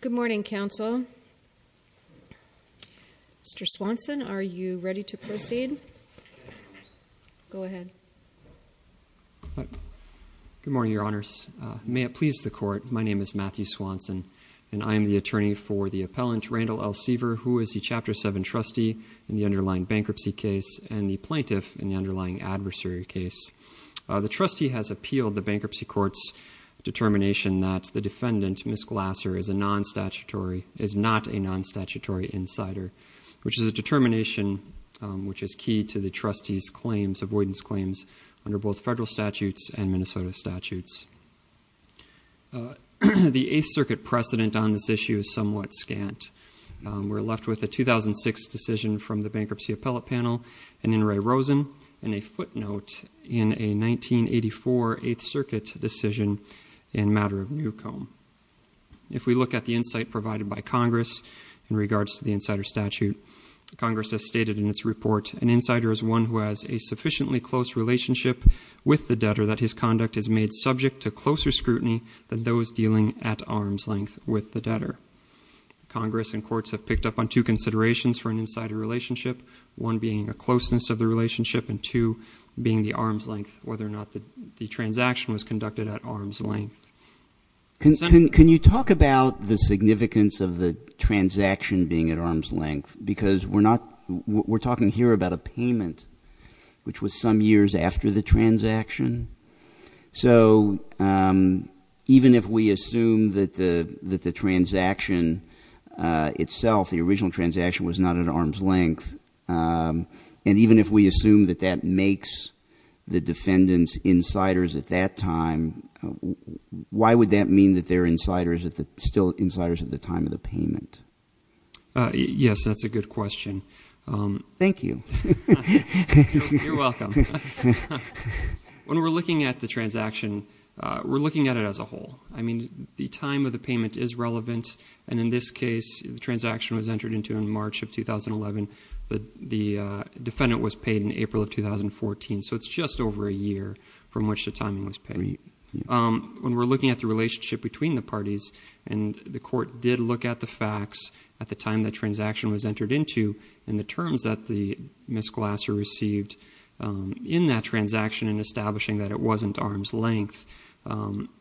Good morning, counsel. Mr. Swanson, are you ready to proceed? Go ahead. Good morning, your honors. May it please the court, my name is Matthew Swanson, and I am the attorney for the appellant Randall L. Seaver, who is the Chapter 7 trustee in the underlying bankruptcy case and the plaintiff in the underlying adversary case. The trustee has appealed the bankruptcy court's determination that the defendant, Ms. Glasser, is not a non-statutory insider, which is a determination which is key to the trustee's avoidance claims under both federal statutes and Minnesota statutes. The Eighth Circuit precedent on this issue is somewhat scant. We're left with a 2006 decision from the Bankruptcy Appellate Panel in Inouye Rosen and a footnote in a 1984 Eighth Circuit decision in Matter of Newcomb. If we look at the insight provided by Congress in regards to the insider statute, Congress has stated in its report, an insider is one who has a sufficiently close relationship with the debtor that his conduct is made subject to closer scrutiny than those dealing at arm's length with the debtor. Congress and courts have picked up on two considerations for an insider relationship, one being a closeness of the relationship and two being the arm's length, whether or not the transaction was conducted at arm's length. Can you talk about the significance of the transaction being at arm's length? Because we're talking here about a payment, which was some years after the transaction. So even if we assume that the transaction itself, the original transaction, was not at arm's length, and even if we assume that that makes the defendants insiders at that time, why would that mean that they're still insiders at the time of the payment? Yes, that's a good question. Thank you. You're welcome. When we're looking at the transaction, we're looking at it as a whole. I mean, the time of the payment is relevant, and in this case, the transaction was entered into in March of 2011. The defendant was paid in April of 2014, so it's just over a year from which the timing was paid. When we're looking at the relationship between the parties, and the court did look at the facts at the time the transaction was entered into and the terms that Ms. Glasser received in that transaction and establishing that it wasn't arm's length. Now,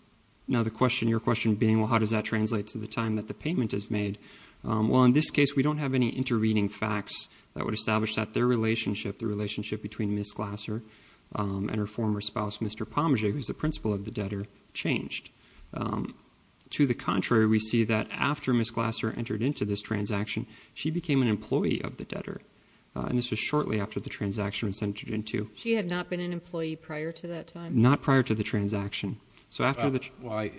your question being, well, how does that translate to the time that the payment is made? Well, in this case, we don't have any intervening facts that would establish that their relationship, the relationship between Ms. Glasser and her former spouse, Mr. Pommaget, who's the principal of the debtor, changed. To the contrary, we see that after Ms. Glasser entered into this transaction, she became an employee of the debtor, and this was shortly after the transaction was entered into. She had not been an employee prior to that time? Not prior to the transaction. Well,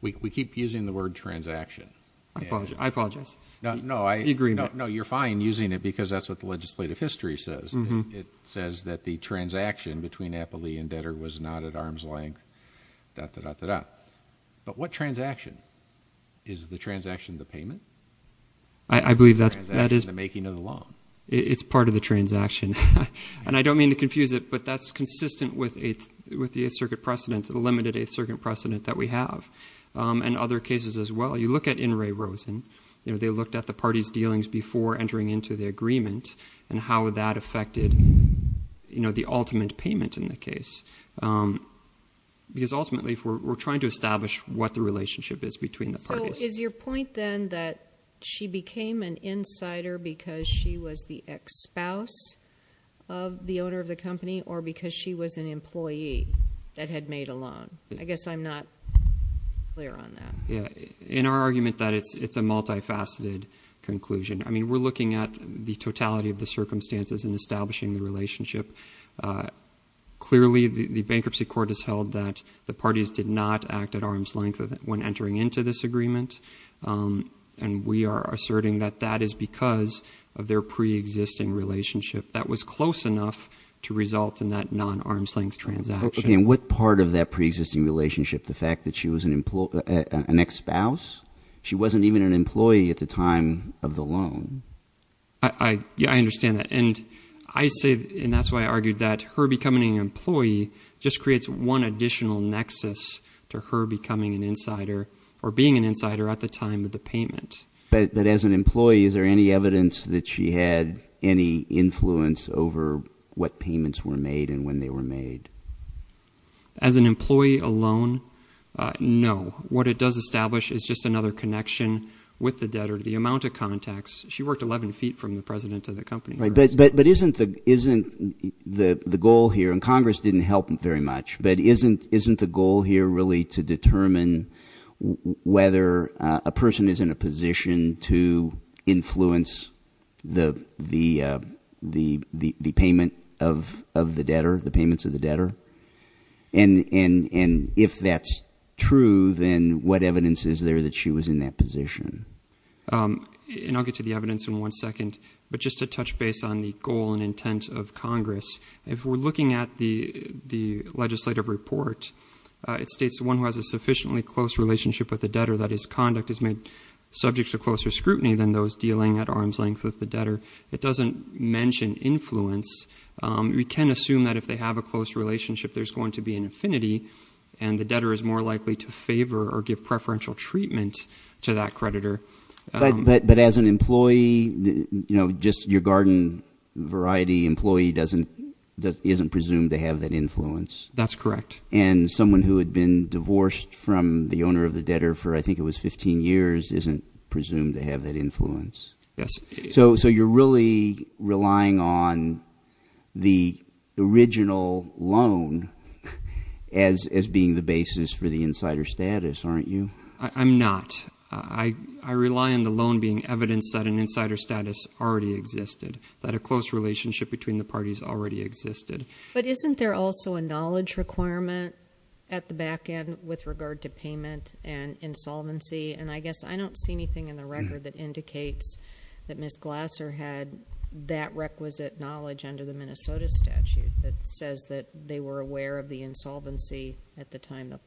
we keep using the word transaction. I apologize. No, you're fine using it, because that's what the legislative history says. It says that the transaction between Applee and debtor was not at arm's length, da-da-da-da-da. But what transaction? Is the transaction the payment? I believe that's what that is. The making of the loan. It's part of the transaction. And I don't mean to confuse it, but that's consistent with the 8th Circuit precedent, the limited 8th Circuit precedent that we have, and other cases as well. You look at In re Rosen. They looked at the parties' dealings before entering into the agreement and how that affected the ultimate payment in the case. Because ultimately, we're trying to establish what the relationship is between the parties. Is your point, then, that she became an insider because she was the ex-spouse of the owner of the company, or because she was an employee that had made a loan? I guess I'm not clear on that. Yeah, in our argument that it's a multifaceted conclusion. I mean, we're looking at the totality of the circumstances in establishing the relationship. Clearly, the bankruptcy court has held that the parties did not act at arm's length when entering into this agreement. And we are asserting that that is because of their pre-existing relationship. That was close enough to result in that non-arm's length transaction. Okay, and what part of that pre-existing relationship, the fact that she was an ex-spouse? She wasn't even an employee at the time of the loan. Yeah, I understand that. And I say, and that's why I argued that her becoming an employee just creates one additional nexus to her becoming an insider or being an insider at the time of the payment. But as an employee, is there any evidence that she had any influence over what payments were made and when they were made? As an employee alone, no. What it does establish is just another connection with the debtor. She worked 11 feet from the president to the company. But isn't the goal here, and Congress didn't help very much, but isn't the goal here really to determine whether a person is in a position to influence the payment of the debtor, the payments of the debtor? And if that's true, then what evidence is there that she was in that position? And I'll get to the evidence in one second. But just to touch base on the goal and intent of Congress, if we're looking at the legislative report, it states the one who has a sufficiently close relationship with the debtor, that is, conduct is made subject to closer scrutiny than those dealing at arm's length with the debtor. It doesn't mention influence. We can assume that if they have a close relationship, there's going to be an affinity, and the debtor is more likely to favor or give preferential treatment to that creditor. But as an employee, just your garden variety employee isn't presumed to have that influence? That's correct. And someone who had been divorced from the owner of the debtor for I think it was 15 years isn't presumed to have that influence? Yes. So you're really relying on the original loan as being the basis for the insider status, aren't you? I'm not. I rely on the loan being evidence that an insider status already existed, that a close relationship between the parties already existed. But isn't there also a knowledge requirement at the back end with regard to payment and insolvency? And I guess I don't see anything in the record that indicates that Ms. Glasser had that requisite knowledge under the Minnesota statute that says that they were aware of the insolvency at the time the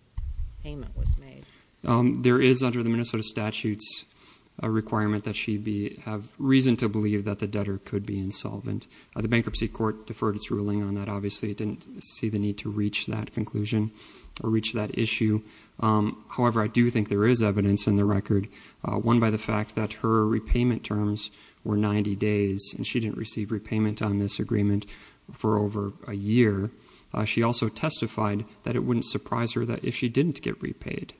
payment was made. There is under the Minnesota statute a requirement that she have reason to believe that the debtor could be insolvent. The Bankruptcy Court deferred its ruling on that. Obviously, it didn't see the need to reach that conclusion or reach that issue. However, I do think there is evidence in the record, one by the fact that her repayment terms were 90 days, and she didn't receive repayment on this agreement for over a year. She also testified that it wouldn't surprise her that if she didn't get repaid.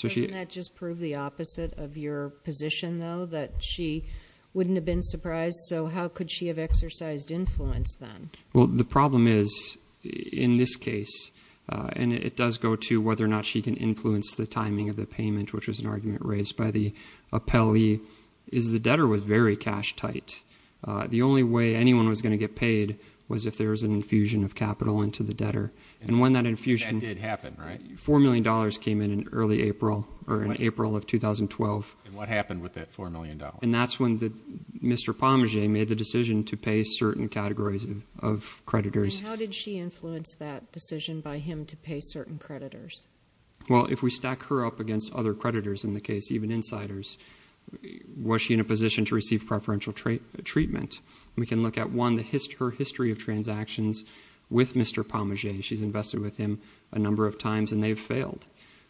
Doesn't that just prove the opposite of your position, though, that she wouldn't have been surprised? So how could she have exercised influence then? Well, the problem is, in this case, and it does go to whether or not she can influence the timing of the payment, which was an argument raised by the appellee, is the debtor was very cash tight. The only way anyone was going to get paid was if there was an infusion of capital into the debtor. And when that infusion— That did happen, right? $4 million came in in early April or in April of 2012. And what happened with that $4 million? And that's when Mr. Pommaget made the decision to pay certain categories of creditors. And how did she influence that decision by him to pay certain creditors? Well, if we stack her up against other creditors in the case, even insiders, was she in a position to receive preferential treatment? We can look at, one, her history of transactions with Mr. Pommaget. She's invested with him a number of times, and they've failed.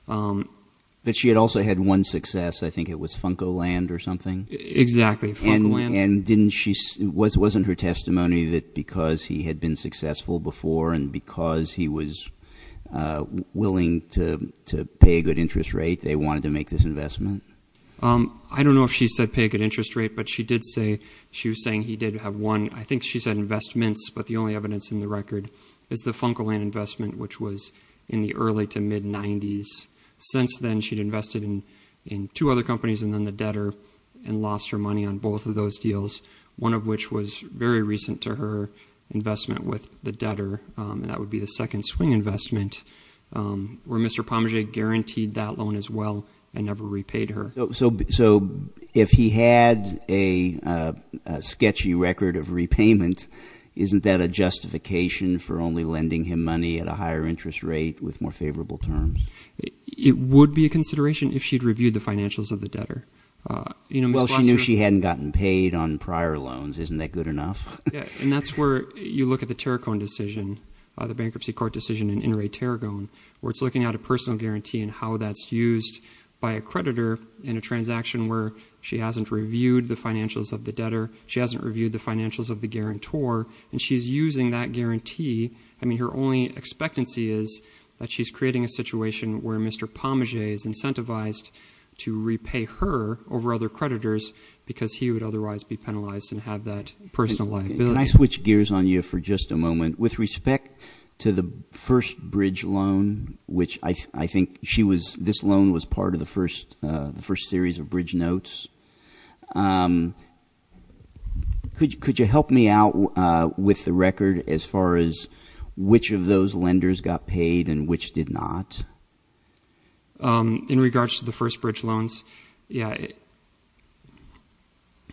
But she had also had one success. I think it was Funcoland or something. Exactly, Funcoland. And didn't she—wasn't her testimony that because he had been successful before and because he was willing to pay a good interest rate, they wanted to make this investment? I don't know if she said pay a good interest rate, but she did say—she was saying he did have one. I think she said investments, but the only evidence in the record is the Funcoland investment, which was in the early to mid-'90s. Since then, she'd invested in two other companies and then the debtor and lost her money on both of those deals, one of which was very recent to her investment with the debtor, and that would be the second swing investment, where Mr. Pommaget guaranteed that loan as well and never repaid her. So if he had a sketchy record of repayment, isn't that a justification for only lending him money at a higher interest rate with more favorable terms? It would be a consideration if she'd reviewed the financials of the debtor. Well, she knew she hadn't gotten paid on prior loans. Isn't that good enough? Yeah, and that's where you look at the Tarragon decision, the bankruptcy court decision in In re Tarragon, where it's looking at a personal guarantee and how that's used by a creditor in a transaction where she hasn't reviewed the financials of the debtor, she hasn't reviewed the financials of the guarantor, and she's using that guarantee. I mean, her only expectancy is that she's creating a situation where Mr. Pommaget is incentivized to repay her over other creditors because he would otherwise be penalized and have that personal liability. Can I switch gears on you for just a moment? With respect to the first bridge loan, which I think this loan was part of the first series of bridge notes, could you help me out with the record as far as which of those lenders got paid and which did not? In regards to the first bridge loans, yeah.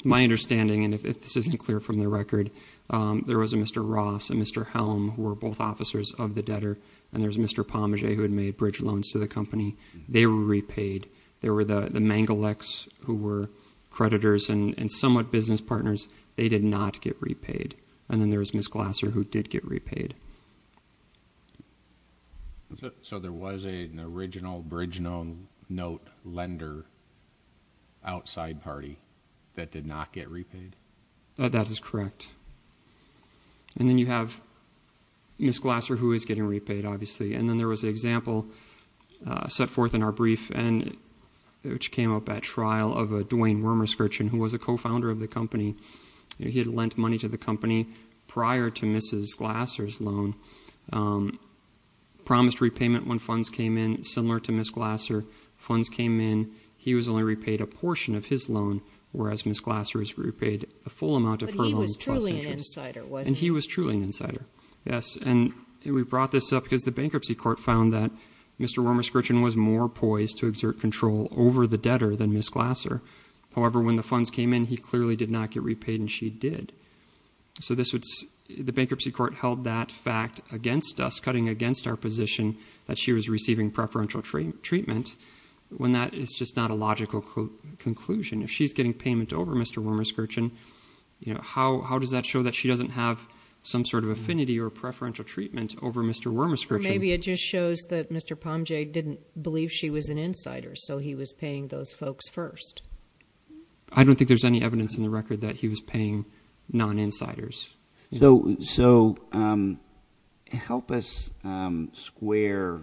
My understanding, and if this isn't clear from the record, there was a Mr. Ross and Mr. Helm who were both officers of the debtor, and there's Mr. Pommaget who had made bridge loans to the company. They were repaid. There were the Mangaleks who were creditors and somewhat business partners. They did not get repaid. And then there was Ms. Glasser who did get repaid. So there was an original bridge note lender outside party that did not get repaid? That is correct. And then you have Ms. Glasser who is getting repaid, obviously. And then there was an example set forth in our brief which came up at trial of a Duane Wormerskirchen who was a co-founder of the company. He had lent money to the company prior to Ms. Glasser's loan, promised repayment when funds came in, similar to Ms. Glasser. Funds came in, he was only repaid a portion of his loan, whereas Ms. Glasser was repaid a full amount of her loan. But he was truly an insider, wasn't he? And he was truly an insider, yes. And we brought this up because the bankruptcy court found that Mr. Wormerskirchen was more poised to exert control over the debtor than Ms. Glasser. However, when the funds came in, he clearly did not get repaid and she did. So the bankruptcy court held that fact against us, cutting against our position that she was receiving preferential treatment when that is just not a logical conclusion. If she's getting payment over Mr. Wormerskirchen, how does that show that she doesn't have some sort of affinity or preferential treatment over Mr. Wormerskirchen? Or maybe it just shows that Mr. Pomge didn't believe she was an insider, so he was paying those folks first. I don't think there's any evidence in the record that he was paying non-insiders. So help us square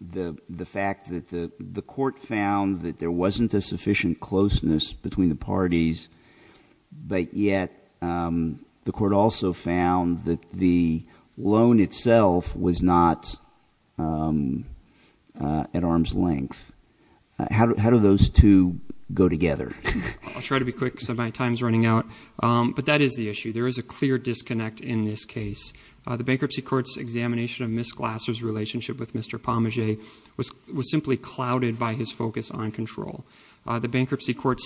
the fact that the court found that there wasn't a sufficient closeness between the parties, but yet the court also found that the loan itself was not at arm's length. How do those two go together? I'll try to be quick because my time is running out. But that is the issue. There is a clear disconnect in this case. The bankruptcy court's examination of Ms. Glasser's relationship with Mr. Pomge was simply clouded by his focus on control. The bankruptcy court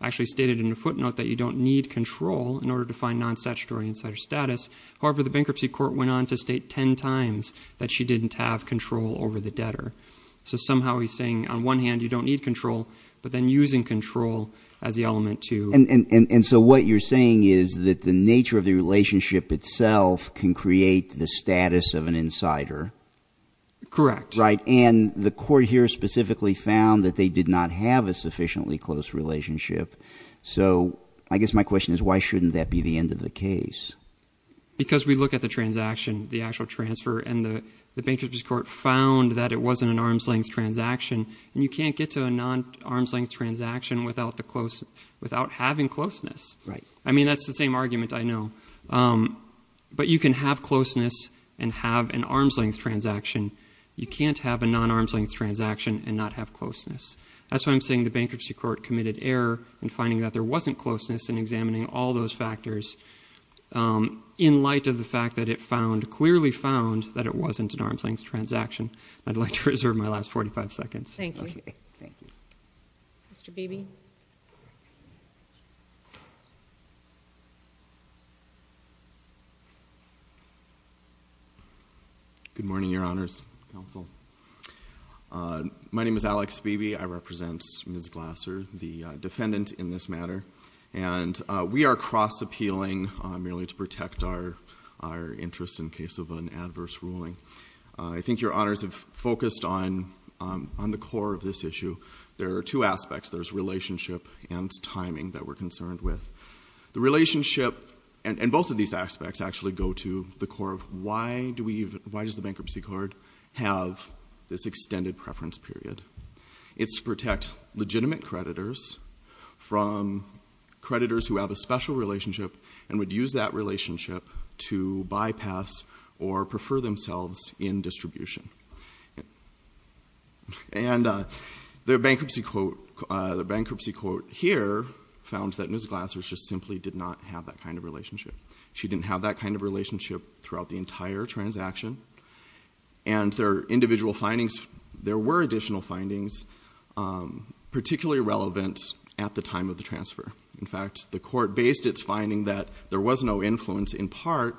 actually stated in a footnote that you don't need control in order to find non-statutory insider status. However, the bankruptcy court went on to state ten times that she didn't have control over the debtor. So somehow he's saying on one hand you don't need control, but then using control as the element to- And so what you're saying is that the nature of the relationship itself can create the status of an insider? Correct. Right. And the court here specifically found that they did not have a sufficiently close relationship. So I guess my question is why shouldn't that be the end of the case? Because we look at the transaction, the actual transfer, and the bankruptcy court found that it wasn't an arm's length transaction. And you can't get to a non-arm's length transaction without having closeness. Right. I mean, that's the same argument I know. But you can have closeness and have an arm's length transaction. You can't have a non-arm's length transaction and not have closeness. That's why I'm saying the bankruptcy court committed error in finding that there wasn't closeness and examining all those factors. In light of the fact that it found, clearly found, that it wasn't an arm's length transaction, I'd like to reserve my last 45 seconds. Thank you. Thank you. Mr. Beebe? Good morning, Your Honors. Counsel. My name is Alex Beebe. I represent Ms. Glasser, the defendant in this matter. And we are cross-appealing merely to protect our interests in case of an adverse ruling. I think Your Honors have focused on the core of this issue. There are two aspects. There's relationship and timing that we're concerned with. The relationship and both of these aspects actually go to the core of why does the bankruptcy court have this extended preference period. It's to protect legitimate creditors from creditors who have a special relationship and would use that relationship to bypass or prefer themselves in distribution. And the bankruptcy court here found that Ms. Glasser just simply did not have that kind of relationship. She didn't have that kind of relationship throughout the entire transaction. And there are individual findings. There were additional findings particularly relevant at the time of the transfer. In fact, the court based its finding that there was no influence in part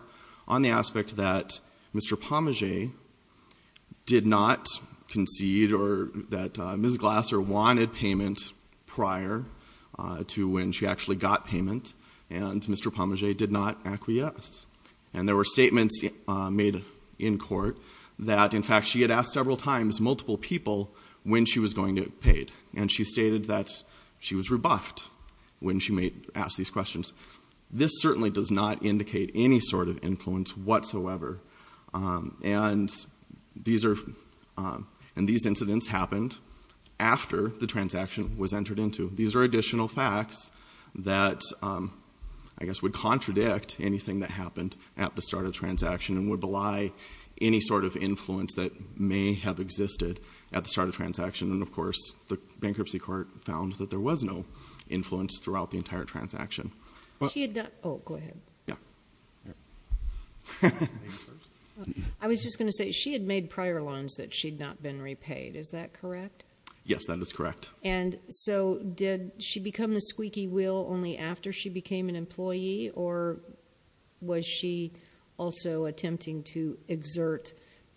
on the aspect that Mr. Pommaget did not concede or that Ms. Glasser wanted payment prior to when she actually got payment, and Mr. Pommaget did not acquiesce. And there were statements made in court that in fact she had asked several times multiple people when she was going to get paid. And she stated that she was rebuffed when she asked these questions. This certainly does not indicate any sort of influence whatsoever. And these incidents happened after the transaction was entered into. These are additional facts that I guess would contradict anything that happened at the start of the transaction and would belie any sort of influence that may have existed at the start of the transaction. And, of course, the bankruptcy court found that there was no influence throughout the entire transaction. She had not – oh, go ahead. Yeah. I was just going to say she had made prior loans that she had not been repaid. Is that correct? Yes, that is correct. And so did she become the squeaky wheel only after she became an employee, or was she also attempting to exert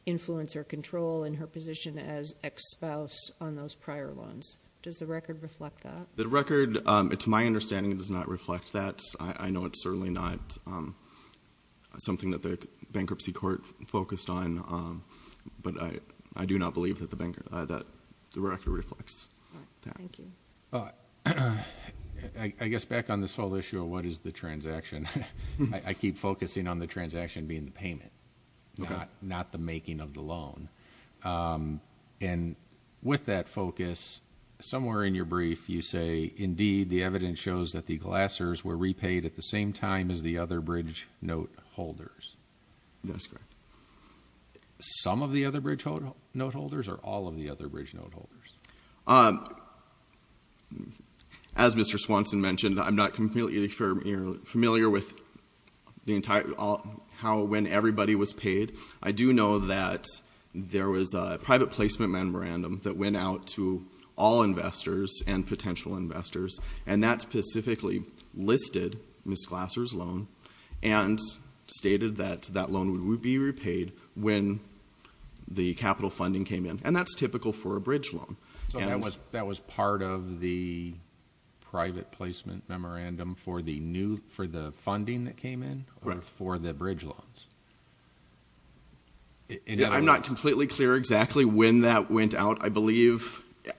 influence or control in her position as ex-spouse on those prior loans? Does the record reflect that? The record, to my understanding, does not reflect that. I know it's certainly not something that the bankruptcy court focused on, but I do not believe that the record reflects that. Thank you. I guess back on this whole issue of what is the transaction, I keep focusing on the transaction being the payment, not the making of the loan. And with that focus, somewhere in your brief you say, indeed, the evidence shows that the glassers were repaid at the same time as the other bridge note holders. That's correct. Some of the other bridge note holders or all of the other bridge note holders? As Mr. Swanson mentioned, I'm not completely familiar with how when everybody was paid. I do know that there was a private placement memorandum that went out to all investors and potential investors, and that specifically listed Ms. Glasser's loan and stated that that loan would be repaid when the capital funding came in. And that's typical for a bridge loan. So that was part of the private placement memorandum for the funding that came in or for the bridge loans? I'm not completely clear exactly when that went out.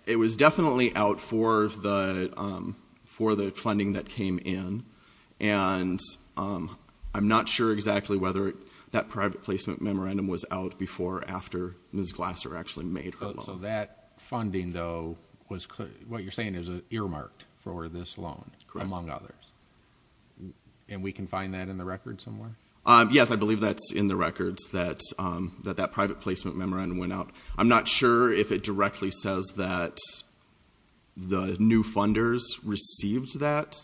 It was definitely out for the funding that came in. And I'm not sure exactly whether that private placement memorandum was out before or after Ms. Glasser actually made her loan. So that funding, though, what you're saying is earmarked for this loan among others? Correct. And we can find that in the records somewhere? Yes, I believe that's in the records that that private placement memorandum went out. I'm not sure if it directly says that the new funders received that,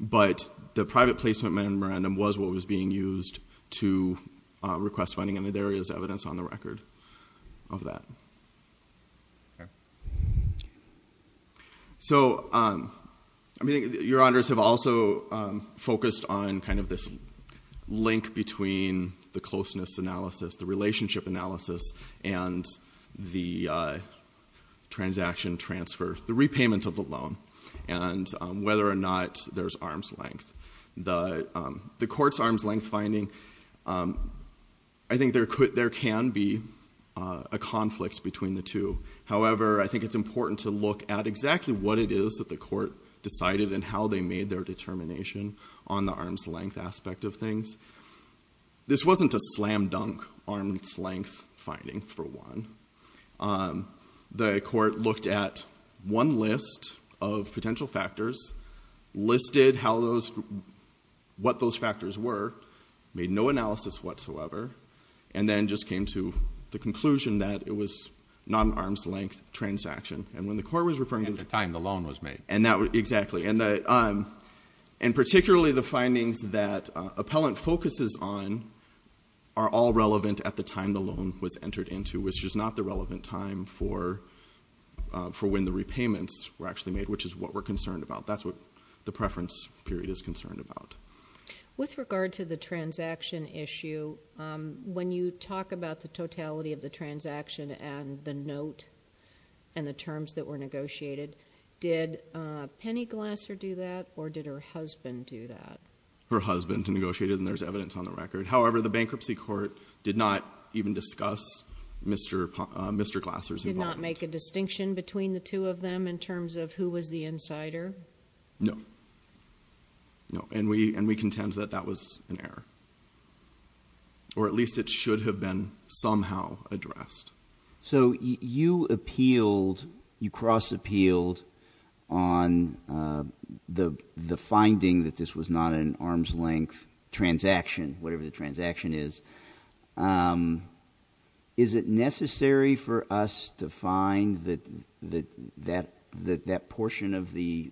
but the private placement memorandum was what was being used to request funding, and there is evidence on the record of that. So your honors have also focused on kind of this link between the closeness analysis, the relationship analysis, and the transaction transfer, the repayment of the loan, and whether or not there's arm's length. The court's arm's length finding, I think there can be a conflict between the two. However, I think it's important to look at exactly what it is that the court decided and how they made their determination on the arm's length aspect of things. This wasn't a slam dunk arm's length finding, for one. The court looked at one list of potential factors, listed what those factors were, made no analysis whatsoever, and then just came to the conclusion that it was not an arm's length transaction. And when the court was referring to the time the loan was made. Exactly. And particularly the findings that appellant focuses on are all relevant at the time the loan was entered into, which is not the relevant time for when the repayments were actually made, which is what we're concerned about. That's what the preference period is concerned about. With regard to the transaction issue, when you talk about the totality of the transaction and the note and the terms that were negotiated, did Penny Glasser do that or did her husband do that? Her husband negotiated, and there's evidence on the record. However, the bankruptcy court did not even discuss Mr. Glasser's involvement. Did not make a distinction between the two of them in terms of who was the insider? No. No. And we contend that that was an error. Or at least it should have been somehow addressed. So you appealed, you cross appealed on the finding that this was not an arm's length transaction, whatever the transaction is. Is it necessary for us to find that that portion of the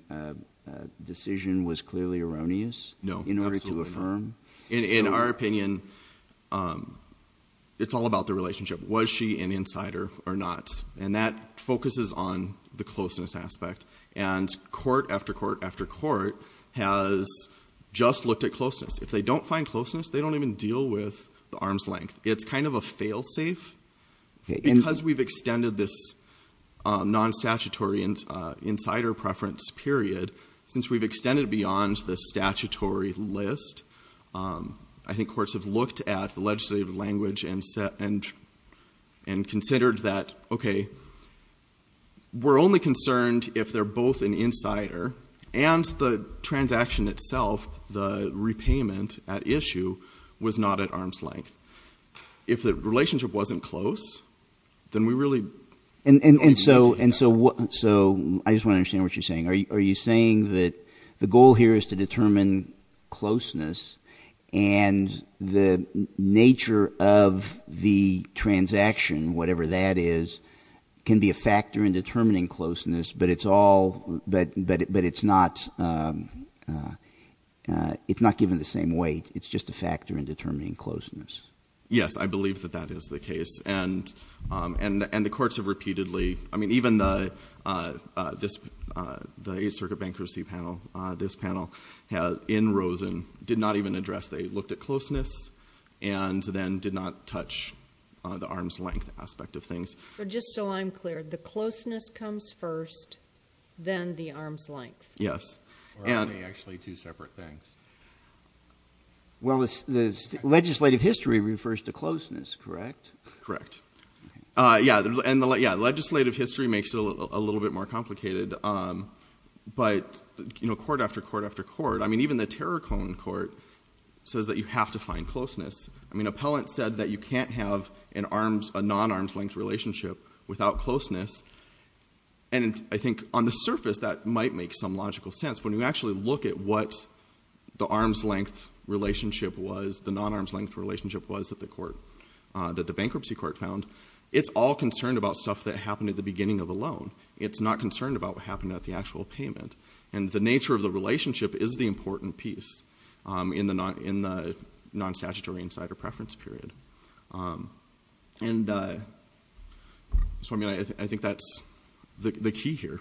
decision was clearly erroneous in order to affirm? No, absolutely not. In our opinion, it's all about the relationship. Was she an insider or not? And that focuses on the closeness aspect. And court after court after court has just looked at closeness. If they don't find closeness, they don't even deal with the arm's length. It's kind of a fail-safe. Because we've extended this non-statutory insider preference period, since we've extended beyond the statutory list, I think courts have looked at the legislative language and considered that, okay, we're only concerned if they're both an insider and the transaction itself, the repayment at issue, was not at arm's length. If the relationship wasn't close, then we really don't even need to ask. And so I just want to understand what you're saying. Are you saying that the goal here is to determine closeness and the nature of the transaction, whatever that is, can be a factor in determining closeness, but it's not given the same weight? It's just a factor in determining closeness? Yes, I believe that that is the case. And the courts have repeatedly, I mean, even the Eighth Circuit Bankruptcy Panel, this panel in Rosen, did not even address. They looked at closeness and then did not touch the arm's length aspect of things. So just so I'm clear, the closeness comes first, then the arm's length? Yes. Or are they actually two separate things? Well, the legislative history refers to closeness, correct? Correct. Yeah, legislative history makes it a little bit more complicated, but, you know, court after court after court, I mean, even the Terracon court says that you have to find closeness. I mean, appellant said that you can't have a non-arm's length relationship without closeness. And I think on the surface that might make some logical sense. When you actually look at what the arm's length relationship was, the non-arm's length relationship was that the bankruptcy court found, it's all concerned about stuff that happened at the beginning of the loan. It's not concerned about what happened at the actual payment. And the nature of the relationship is the important piece in the non-statutory insider preference period. And so, I mean, I think that's the key here.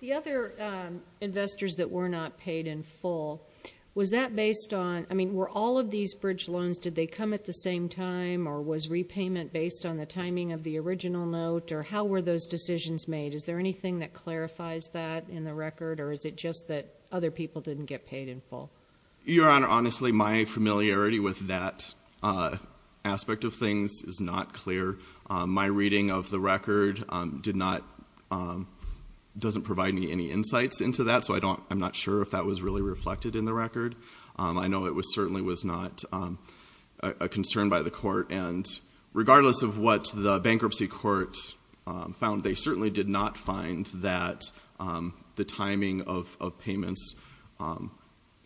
The other investors that were not paid in full, was that based on, I mean, were all of these bridge loans, did they come at the same time or was repayment based on the timing of the original note or how were those decisions made? Is there anything that clarifies that in the record or is it just that other people didn't get paid in full? Your Honor, honestly, my familiarity with that aspect of things is not clear. My reading of the record doesn't provide me any insights into that, so I'm not sure if that was really reflected in the record. I know it certainly was not a concern by the court. And regardless of what the bankruptcy court found, they certainly did not find that the timing of payments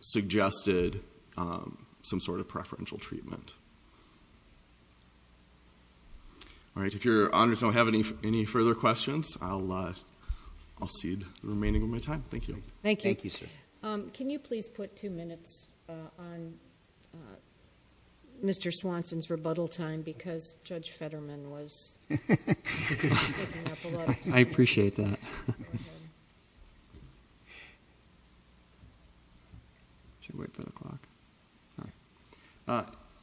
suggested some sort of preferential treatment. All right, if Your Honors don't have any further questions, I'll cede the remaining of my time. Thank you, sir. Can you please put two minutes on Mr. Swanson's rebuttal time because Judge Fetterman was picking up a lot of time. I appreciate that.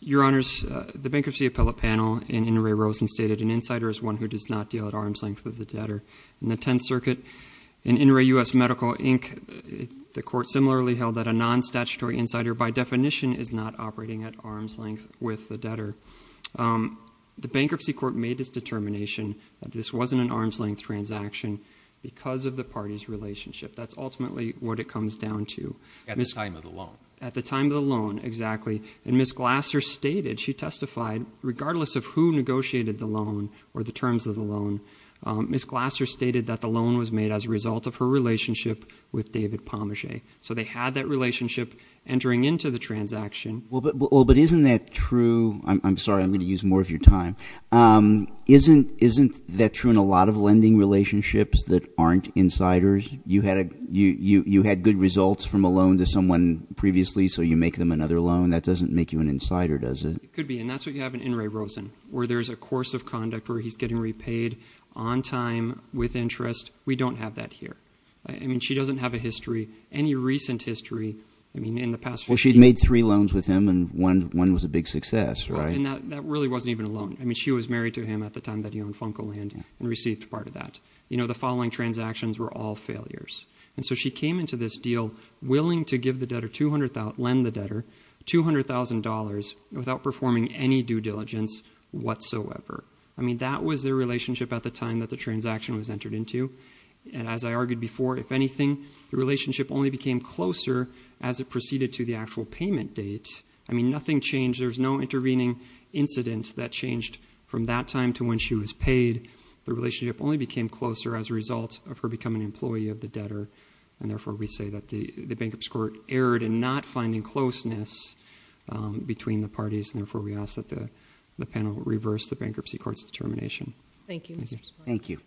Your Honors, the bankruptcy appellate panel in Inouye Rosen stated, an insider is one who does not deal at arm's length with the debtor. In the Tenth Circuit, in Inouye U.S. Medical, Inc., the court similarly held that a non-statutory insider by definition is not operating at arm's length with the debtor. The bankruptcy court made this determination that this wasn't an arm's length transaction because of the party's relationship. That's ultimately what it comes down to. At the time of the loan. At the time of the loan, exactly. And Ms. Glasser stated, she testified, regardless of who negotiated the loan or the terms of the loan, Ms. Glasser stated that the loan was made as a result of her relationship with David Pommachet. So they had that relationship entering into the transaction. Well, but isn't that true? I'm sorry, I'm going to use more of your time. Isn't that true in a lot of lending relationships that aren't insiders? You had good results from a loan to someone previously, so you make them another loan. That doesn't make you an insider, does it? It could be. And that's what you have in In re Rosen, where there's a course of conduct where he's getting repaid on time with interest. We don't have that here. I mean, she doesn't have a history, any recent history. I mean, in the past. Well, she'd made three loans with him, and one was a big success, right? And that really wasn't even a loan. I mean, she was married to him at the time that he owned Funkoland and received part of that. You know, the following transactions were all failures. And so she came into this deal willing to lend the debtor $200,000 without performing any due diligence whatsoever. I mean, that was their relationship at the time that the transaction was entered into. And as I argued before, if anything, the relationship only became closer as it proceeded to the actual payment date. I mean, nothing changed. There was no intervening incident that changed from that time to when she was paid. The relationship only became closer as a result of her becoming an employee of the debtor. And therefore, we say that the bankruptcy court erred in not finding closeness between the parties. And therefore, we ask that the panel reverse the bankruptcy court's determination. Thank you. Thank you.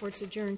Court's adjourned.